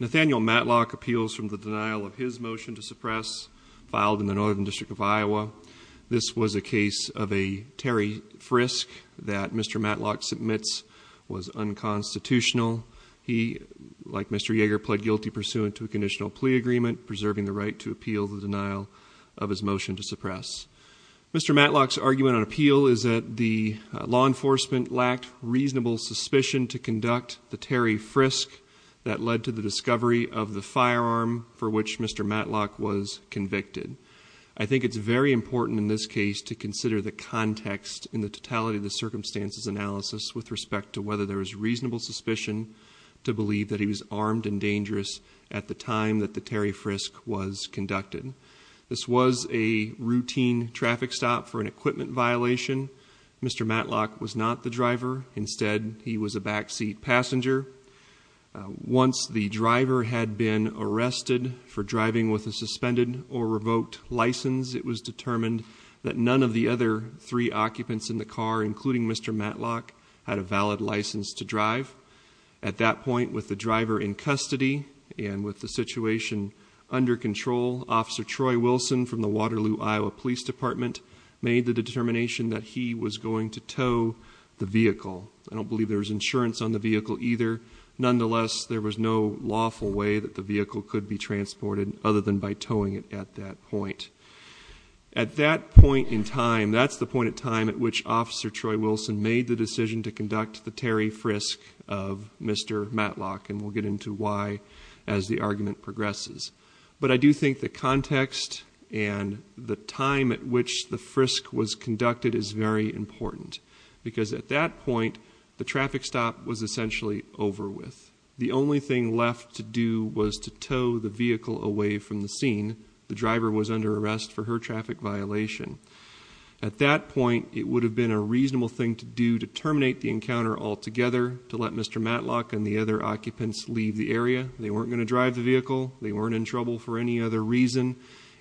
Nathaniel Matlock appeals from the denial of his motion to suppress, filed in the Northern District of Iowa. This was a case of a Terry Frisk that Mr. Matlock submits was unconstitutional. He, like Mr. Yeager, pled guilty pursuant to a conditional plea agreement, preserving the right to appeal the denial of his motion to suppress. Mr. Matlock's argument on appeal is that the law enforcement lacked reasonable suspicion to conduct the Terry Frisk that led to the discovery of the firearm for which Mr. Matlock was convicted. I think it's very important in this case to consider the context in the totality of the circumstances analysis with respect to whether there was reasonable suspicion to believe that he was armed and dangerous at the time that the Terry Frisk was conducted. This was a routine traffic stop for an equipment violation. Mr. Matlock was not the driver. Instead, he was a backseat passenger. Once the driver had been arrested for driving with a suspended or revoked license, it was determined that none of the other three occupants in the car, including Mr. Matlock, had a valid license to drive. At that point, with the driver in custody and with the situation under control, Officer Troy Wilson from the Waterloo, Iowa Police Department made the determination that he was going to tow the vehicle. I don't believe there was insurance on the vehicle either. Nonetheless, there was no lawful way that the vehicle could be transported other than by towing it at that point. At that point in time, that's the point in time at which Officer Troy Wilson made the decision to conduct the Terry Frisk of Mr. Matlock. And we'll get into why as the argument progresses. But I do think the context and the time at which the Frisk was conducted is very important. Because at that point, the traffic stop was essentially over with. The only thing left to do was to tow the vehicle away from the scene. The driver was under arrest for her traffic violation. At that point, it would have been a reasonable thing to do to terminate the encounter altogether, to let Mr. Matlock and the other occupants leave the area. They weren't going to drive the vehicle. They weren't in trouble for any other reason.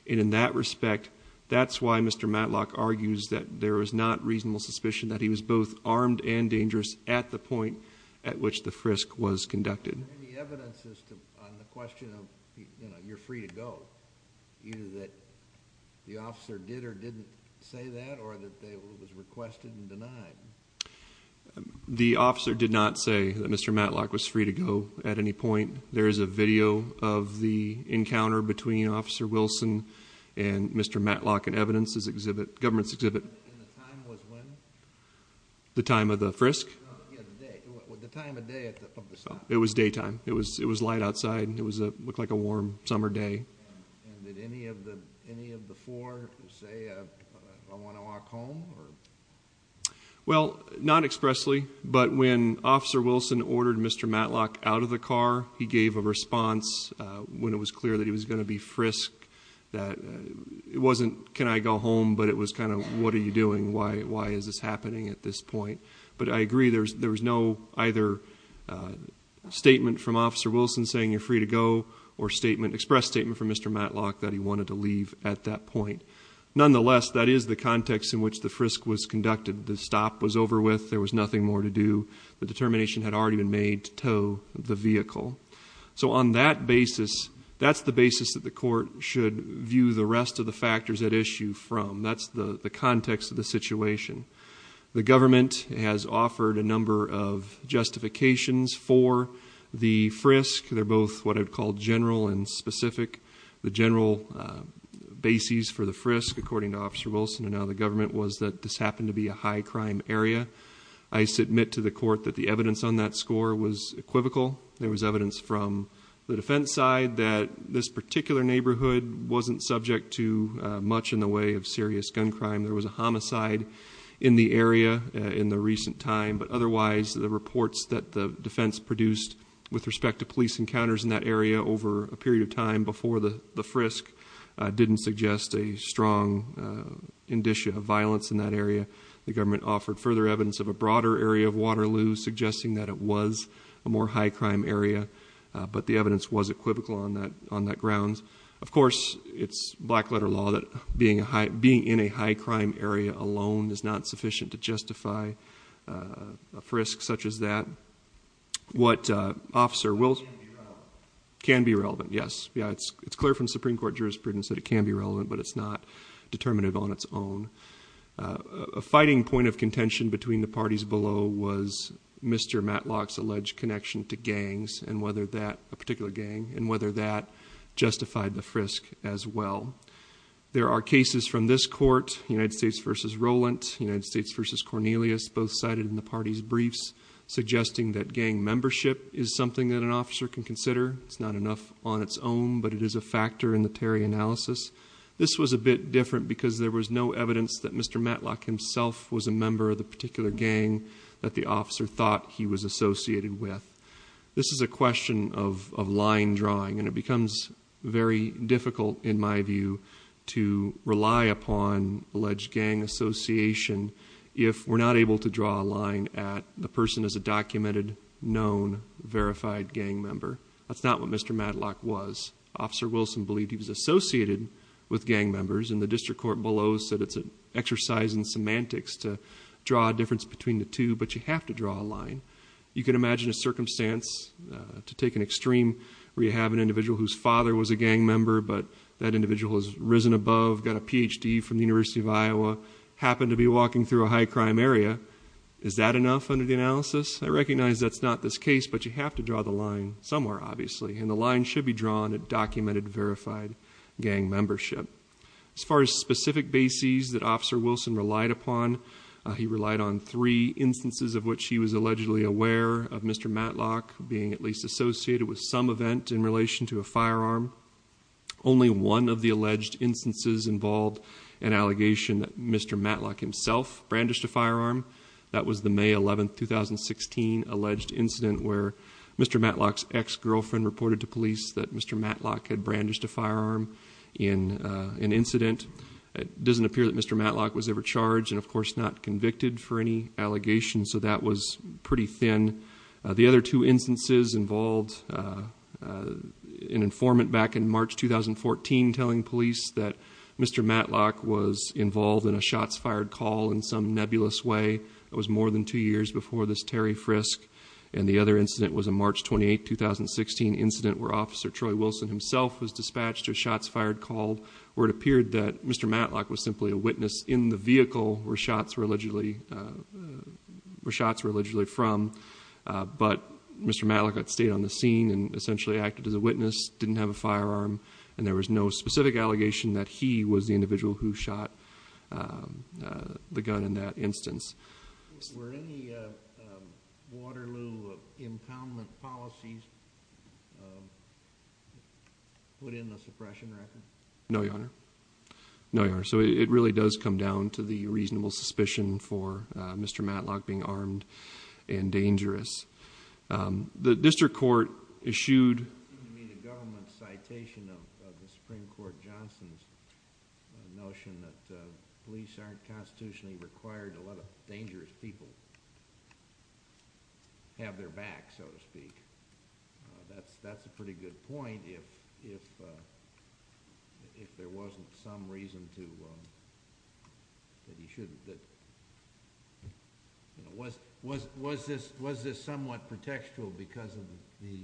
And in that respect, that's why Mr. Matlock argues that there was not reasonable suspicion that he was both armed and dangerous at the point at which the Frisk was conducted. Is there any evidence on the question of you're free to go? Either that the officer did or didn't say that, or that it was requested and denied? The officer did not say that Mr. Matlock was free to go at any point. There is a video of the encounter between Officer Wilson and Mr. Matlock in evidence's exhibit, government's exhibit. And the time was when? The time of the Frisk? The time of day at the site. It was daytime. It was light outside. It looked like a warm summer day. And did any of the four say, I want to walk home? Well, not expressly. But when Officer Wilson ordered Mr. Matlock out of the car, he gave a response when it was clear that he was going to be Frisk. It wasn't, can I go home? But it was kind of, what are you doing? Why is this happening at this point? But I agree there was no either statement from Officer Wilson saying you're free to go or statement, express statement from Mr. Matlock that he wanted to leave at that point. Nonetheless, that is the context in which the Frisk was conducted. The stop was over with. There was nothing more to do. The determination had already been made to tow the vehicle. So on that basis, that's the basis that the court should view the rest of the factors at issue from. That's the context of the situation. The government has offered a number of justifications for the Frisk. They're both what I'd call general and specific. The general basis for the Frisk, according to Officer Wilson and other government, was that this happened to be a high crime area. I submit to the court that the evidence on that score was equivocal. There was evidence from the defense side that this particular neighborhood wasn't subject to much in the way of serious gun crime. There was a homicide in the area in the recent time. But otherwise, the reports that the defense produced with respect to police encounters in that area over a period of time before the Frisk didn't suggest a strong indicia of violence in that area. The government offered further evidence of a broader area of Waterloo, suggesting that it was a more high crime area. But the evidence was equivocal on that grounds. Of course, it's black letter law that being in a high crime area alone is not sufficient to justify a Frisk such as that. What Officer Wilson... It can be relevant. It can be relevant, yes. It's clear from Supreme Court jurisprudence that it can be relevant, but it's not determinative on its own. A fighting point of contention between the parties below was Mr. Matlock's alleged connection to gangs, a particular gang, and whether that justified the Frisk as well. There are cases from this court, United States v. Rowland, United States v. Cornelius, both cited in the party's briefs, suggesting that gang membership is something that an officer can consider. It's not enough on its own, but it is a factor in the Terry analysis. This was a bit different because there was no evidence that Mr. Matlock himself was a member of the particular gang that the officer thought he was associated with. This is a question of line drawing, and it becomes very difficult in my view to rely upon alleged gang association if we're not able to draw a line at the person as a documented, known, verified gang member. That's not what Mr. Matlock was. Officer Wilson believed he was associated with gang members, and the district court below said it's an exercise in semantics to draw a difference between the two, but you have to draw a line. You can imagine a circumstance to take an extreme where you have an individual whose father was a gang member but that individual has risen above, got a Ph.D. from the University of Iowa, happened to be walking through a high-crime area. Is that enough under the analysis? I recognize that's not this case, but you have to draw the line somewhere, obviously, and the line should be drawn at documented, verified gang membership. As far as specific bases that Officer Wilson relied upon, he relied on three instances of which he was allegedly aware of Mr. Matlock being at least associated with some event in relation to a firearm. Only one of the alleged instances involved an allegation that Mr. Matlock himself brandished a firearm. That was the May 11, 2016, alleged incident where Mr. Matlock's ex-girlfriend reported to police that Mr. Matlock had brandished a firearm in an incident. It doesn't appear that Mr. Matlock was ever charged and, of course, not convicted for any allegations, so that was pretty thin. The other two instances involved an informant back in March, 2014, telling police that Mr. Matlock was involved in a shots-fired call in some nebulous way. That was more than two years before this Terry Frisk. And the other incident was a March 28, 2016, incident where Officer Troy Wilson himself was dispatched to a shots-fired call where it appeared that Mr. Matlock was simply a witness in the vehicle where shots were allegedly from, but Mr. Matlock had stayed on the scene and essentially acted as a witness, didn't have a firearm, and there was no specific allegation that he was the individual who shot the gun in that instance. Were any Waterloo impoundment policies put in the suppression record? No, Your Honor. No, Your Honor. So it really does come down to the reasonable suspicion for Mr. Matlock being armed and dangerous. The district court issued the government's citation of the Supreme Court Johnson's notion that police aren't constitutionally required to let a dangerous people have their back, so to speak. That's a pretty good point if there wasn't some reason that he shouldn't. Was this somewhat pretextual because of the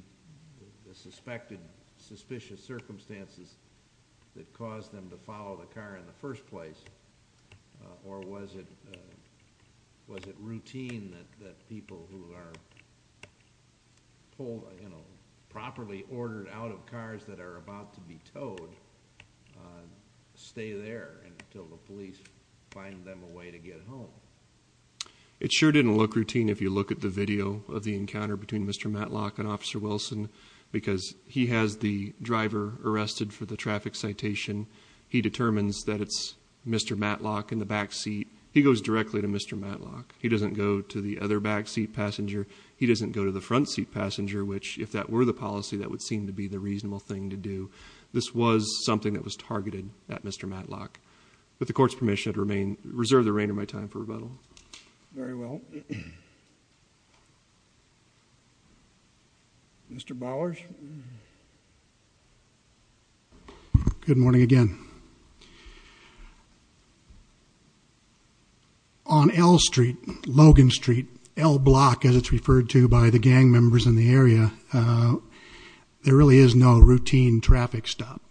suspected, suspicious circumstances that caused them to follow the car in the first place, or was it routine that people who are properly ordered out of cars that are about to be towed stay there until the police find them a way to get home? It sure didn't look routine if you look at the video of the encounter between Mr. Matlock and Officer Wilson because he has the driver arrested for the traffic citation. He determines that it's Mr. Matlock in the back seat. He goes directly to Mr. Matlock. He doesn't go to the other back seat passenger. He doesn't go to the front seat passenger, which if that were the policy, that would seem to be the reasonable thing to do. This was something that was targeted at Mr. Matlock. With the court's permission, I'd reserve the rein of my time for rebuttal. Very well. Thank you. Mr. Bowers? Good morning again. On L Street, Logan Street, L Block, as it's referred to by the gang members in the area, there really is no routine traffic stop.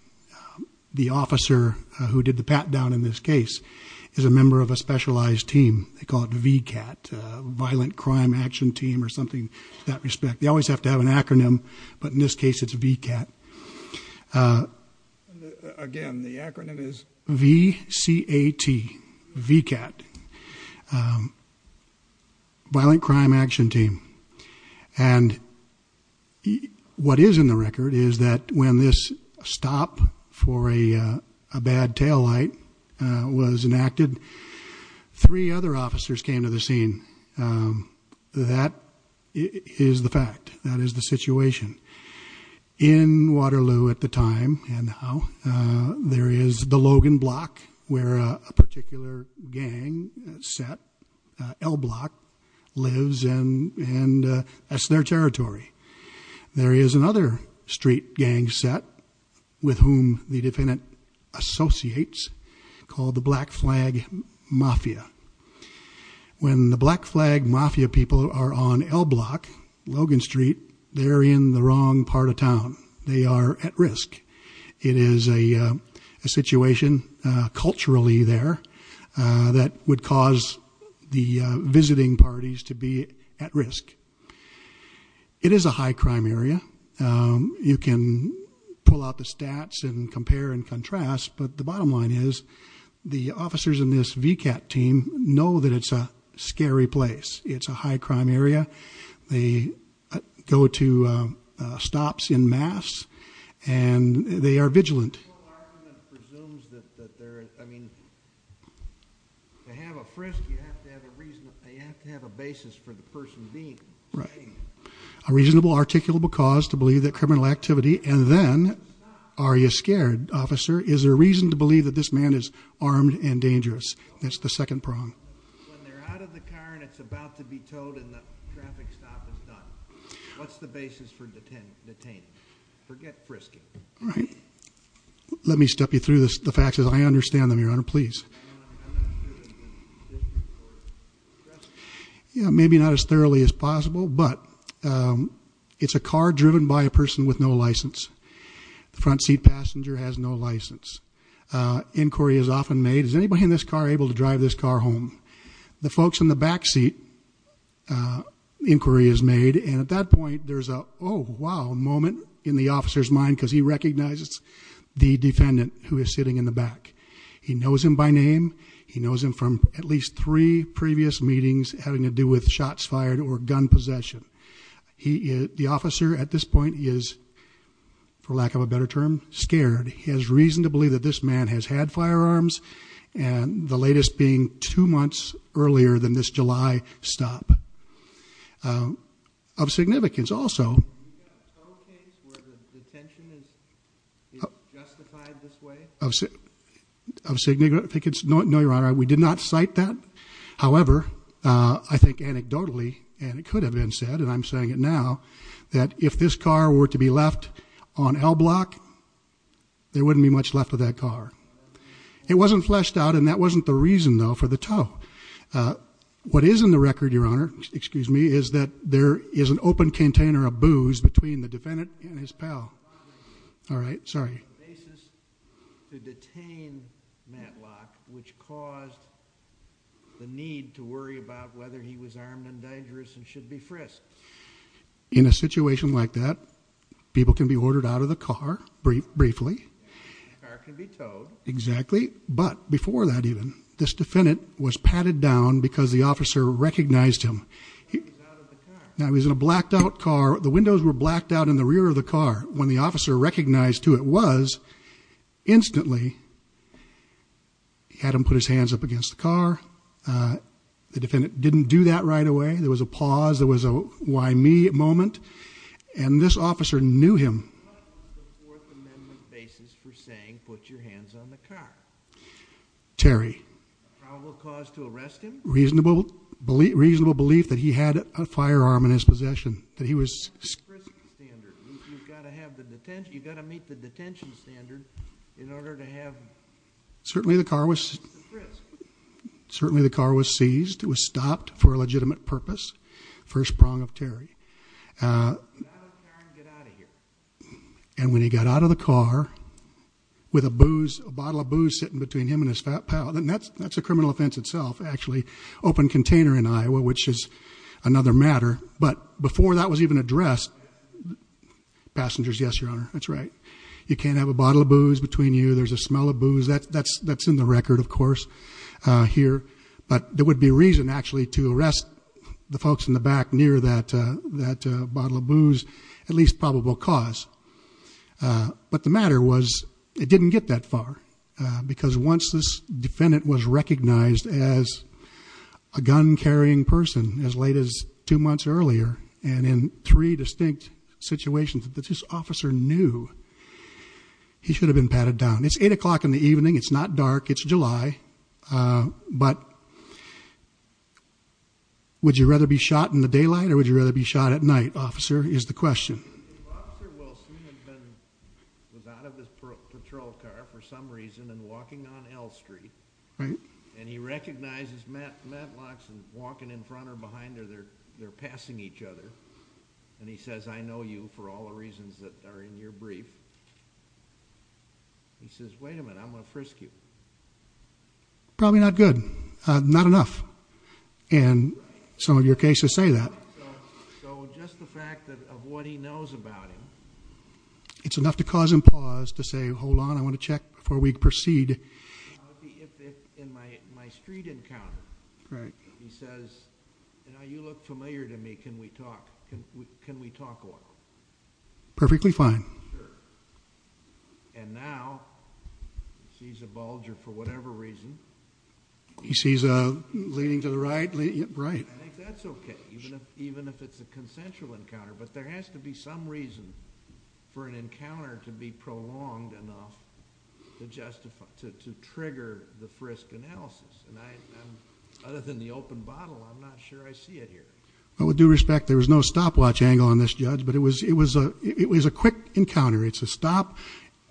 The officer who did the pat down in this case is a member of a specialized team. They call it VCAT, Violent Crime Action Team, or something to that respect. They always have to have an acronym, but in this case it's VCAT. Again, the acronym is V-C-A-T, VCAT, Violent Crime Action Team. And what is in the record is that when this stop for a bad tail light was enacted, three other officers came to the scene. That is the fact. That is the situation. In Waterloo at the time, and now, there is the Logan Block, where a particular gang set, L Block, lives, and that's their territory. There is another street gang set with whom the defendant associates called the Black Flag Mafia. When the Black Flag Mafia people are on L Block, Logan Street, they're in the wrong part of town. They are at risk. It is a situation culturally there that would cause the visiting parties to be at risk. It is a high crime area. You can pull out the stats and compare and contrast, but the bottom line is the officers in this VCAT team know that it's a scary place. It's a high crime area. They go to stops en masse, and they are vigilant. The oral argument presumes that they're, I mean, to have a frisk, you have to have a reason, you have to have a basis for the person being. Right. A reasonable, articulable cause to believe that criminal activity, and then are you scared, officer? Is there a reason to believe that this man is armed and dangerous? That's the second prong. When they're out of the car and it's about to be towed and the traffic stop is done, what's the basis for detaining? Forget frisking. Right. Let me step you through the facts as I understand them, Your Honor, please. Yeah, maybe not as thoroughly as possible, but it's a car driven by a person with no license. The front seat passenger has no license. Inquiry is often made. Is anybody in this car able to drive this car home? The folks in the back seat, inquiry is made, and at that point there's a, oh, wow, moment in the officer's mind because he recognizes the defendant who is sitting in the back. He knows him by name. He knows him from at least three previous meetings having to do with shots fired or gun possession. The officer at this point is, for lack of a better term, scared. He has reason to believe that this man has had firearms, and the latest being two months earlier than this July stop. Of significance also. Do you have a total case where the detention is justified this way? Of significance? No, Your Honor, we did not cite that. However, I think anecdotally, and it could have been said, and I'm saying it now, that if this car were to be left on L block, there wouldn't be much left of that car. It wasn't fleshed out, and that wasn't the reason, though, for the tow. What is in the record, Your Honor, excuse me, is that there is an open container of booze between the defendant and his pal. All right, sorry. The basis to detain Matlock, which caused the need to worry about whether he was armed and dangerous and should be frisked. In a situation like that, people can be ordered out of the car briefly. The car can be towed. Exactly, but before that even, this defendant was patted down because the officer recognized him. He was out of the car. Now, he was in a blacked out car. The windows were blacked out in the rear of the car. When the officer recognized who it was, instantly had him put his hands up against the car. The defendant didn't do that right away. There was a pause. There was a why me moment, and this officer knew him. What was the Fourth Amendment basis for saying put your hands on the car? Terry. A probable cause to arrest him? Reasonable belief that he had a firearm in his possession, that he was... Frisk standard. You've got to meet the detention standard in order to have... Certainly, the car was... Frisked. Certainly, the car was seized. It was stopped for a legitimate purpose, first prong of Terry. Get out of the car and get out of here. And when he got out of the car with a bottle of booze sitting between him and his pal, and that's a criminal offense itself, actually. Open container in Iowa, which is another matter. But before that was even addressed... Passengers, yes, Your Honor. That's right. You can't have a bottle of booze between you. There's a smell of booze. That's in the record, of course, here. But there would be reason, actually, to arrest the folks in the back near that bottle of booze. At least probable cause. But the matter was, it didn't get that far. Because once this defendant was recognized as a gun-carrying person, as late as two months earlier, and in three distinct situations, this officer knew he should have been patted down. It's 8 o'clock in the evening. It's not dark. It's July. But would you rather be shot in the daylight or would you rather be shot at night, officer, is the question. Officer Wilson was out of his patrol car for some reason and walking on L Street. And he recognizes Matlock's walking in front or behind her. They're passing each other. And he says, I know you for all the reasons that are in your brief. He says, wait a minute, I'm going to frisk you. Probably not good. Not enough. And some of your cases say that. So just the fact of what he knows about him. It's enough to cause him pause to say, hold on, I want to check before we proceed. In my street encounter. Right. He says, you know, you look familiar to me. Can we talk? Can we talk a little? Perfectly fine. Sure. And now he sees a Bulger for whatever reason. He sees a leading to the right. Right. I think that's okay. Even if it's a consensual encounter. But there has to be some reason for an encounter to be prolonged enough to trigger the frisk analysis. And other than the open bottle, I'm not sure I see it here. With due respect, there was no stopwatch angle on this judge. But it was a quick encounter. It's a stop.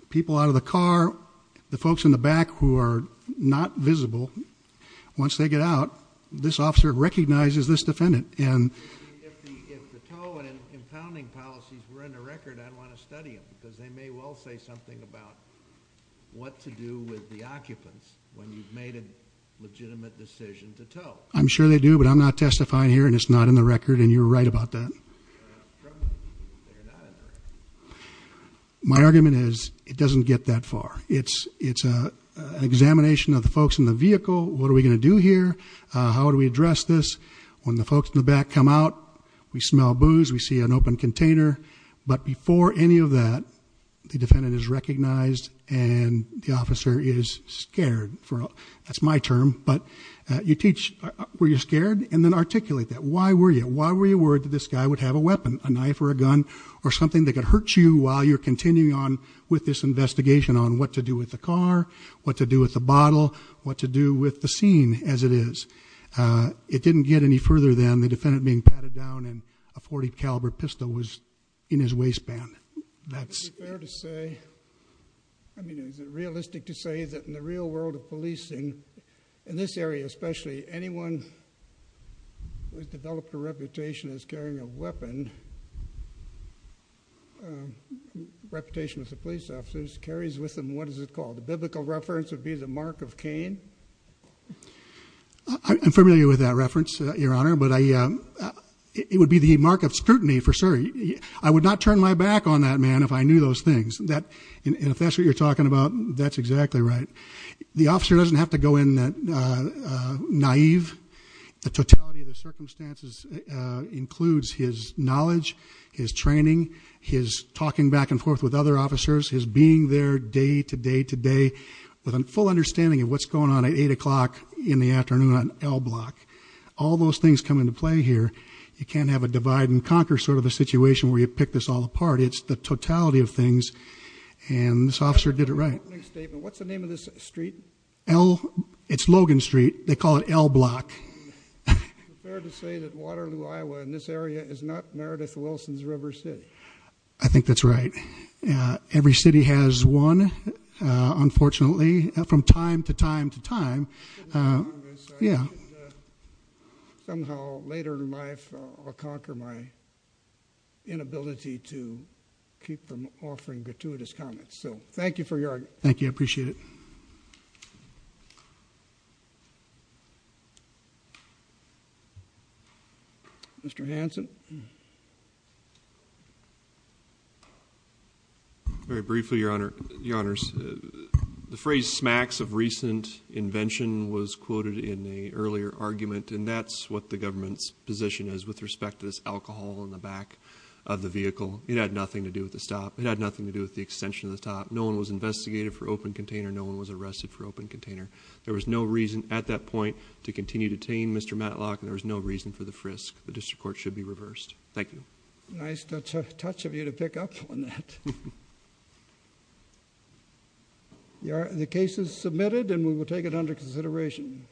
People out of the car. The folks in the back who are not visible. Once they get out, this officer recognizes this defendant. If the tow and impounding policies were in the record, I'd want to study them. Because they may well say something about what to do with the occupants when you've made a legitimate decision to tow. I'm sure they do. But I'm not testifying here. And it's not in the record. And you're right about that. They're not in the record. My argument is, it doesn't get that far. It's an examination of the folks in the vehicle. What are we going to do here? How do we address this? When the folks in the back come out, we smell booze. We see an open container. But before any of that, the defendant is recognized. And the officer is scared. That's my term. But you teach where you're scared. And then articulate that. Why were you worried that this guy would have a weapon? A knife or a gun? Or something that could hurt you while you're continuing on with this investigation on what to do with the car, what to do with the bottle, what to do with the scene as it is. It didn't get any further than the defendant being patted down and a .40 caliber pistol was in his waistband. Is it fair to say, I mean, is it realistic to say that in the real world of policing, in this area especially, anyone who has developed a reputation as carrying a weapon, reputation as a police officer, carries with them what is it called? The biblical reference would be the mark of Cain. I'm familiar with that reference, Your Honor. But it would be the mark of scrutiny, for sure. I would not turn my back on that man if I knew those things. And if that's what you're talking about, that's exactly right. The officer doesn't have to go in naive. The totality of the circumstances includes his knowledge, his training, his talking back and forth with other officers, his being there day to day to day with a full understanding of what's going on at 8 o'clock in the afternoon on L block. All those things come into play here. You can't have a divide and conquer sort of a situation where you pick this all apart. It's the totality of things. And this officer did it right. What's the name of this street? It's Logan Street. They call it L block. Is it fair to say that Waterloo, Iowa, in this area is not Meredith Wilson's River City? I think that's right. Every city has one, unfortunately, from time to time to time. Yeah. Somehow later in life I'll conquer my inability to keep from offering gratuitous comments. So thank you for your argument. Thank you. I appreciate it. Mr. Hanson. Very briefly, Your Honor, the phrase smacks of recent invention was quoted in the earlier argument. And that's what the government's position is with respect to this alcohol in the back of the vehicle. It had nothing to do with the stop. It had nothing to do with the extension of the top. No one was investigated for open container. No one was arrested for open container. There was no reason at that point to continue to detain Mr. Matlock. And there was no reason for the frisk. The district court should be reversed. Thank you. Nice touch of you to pick up on that. The case is submitted and we will take it under consideration.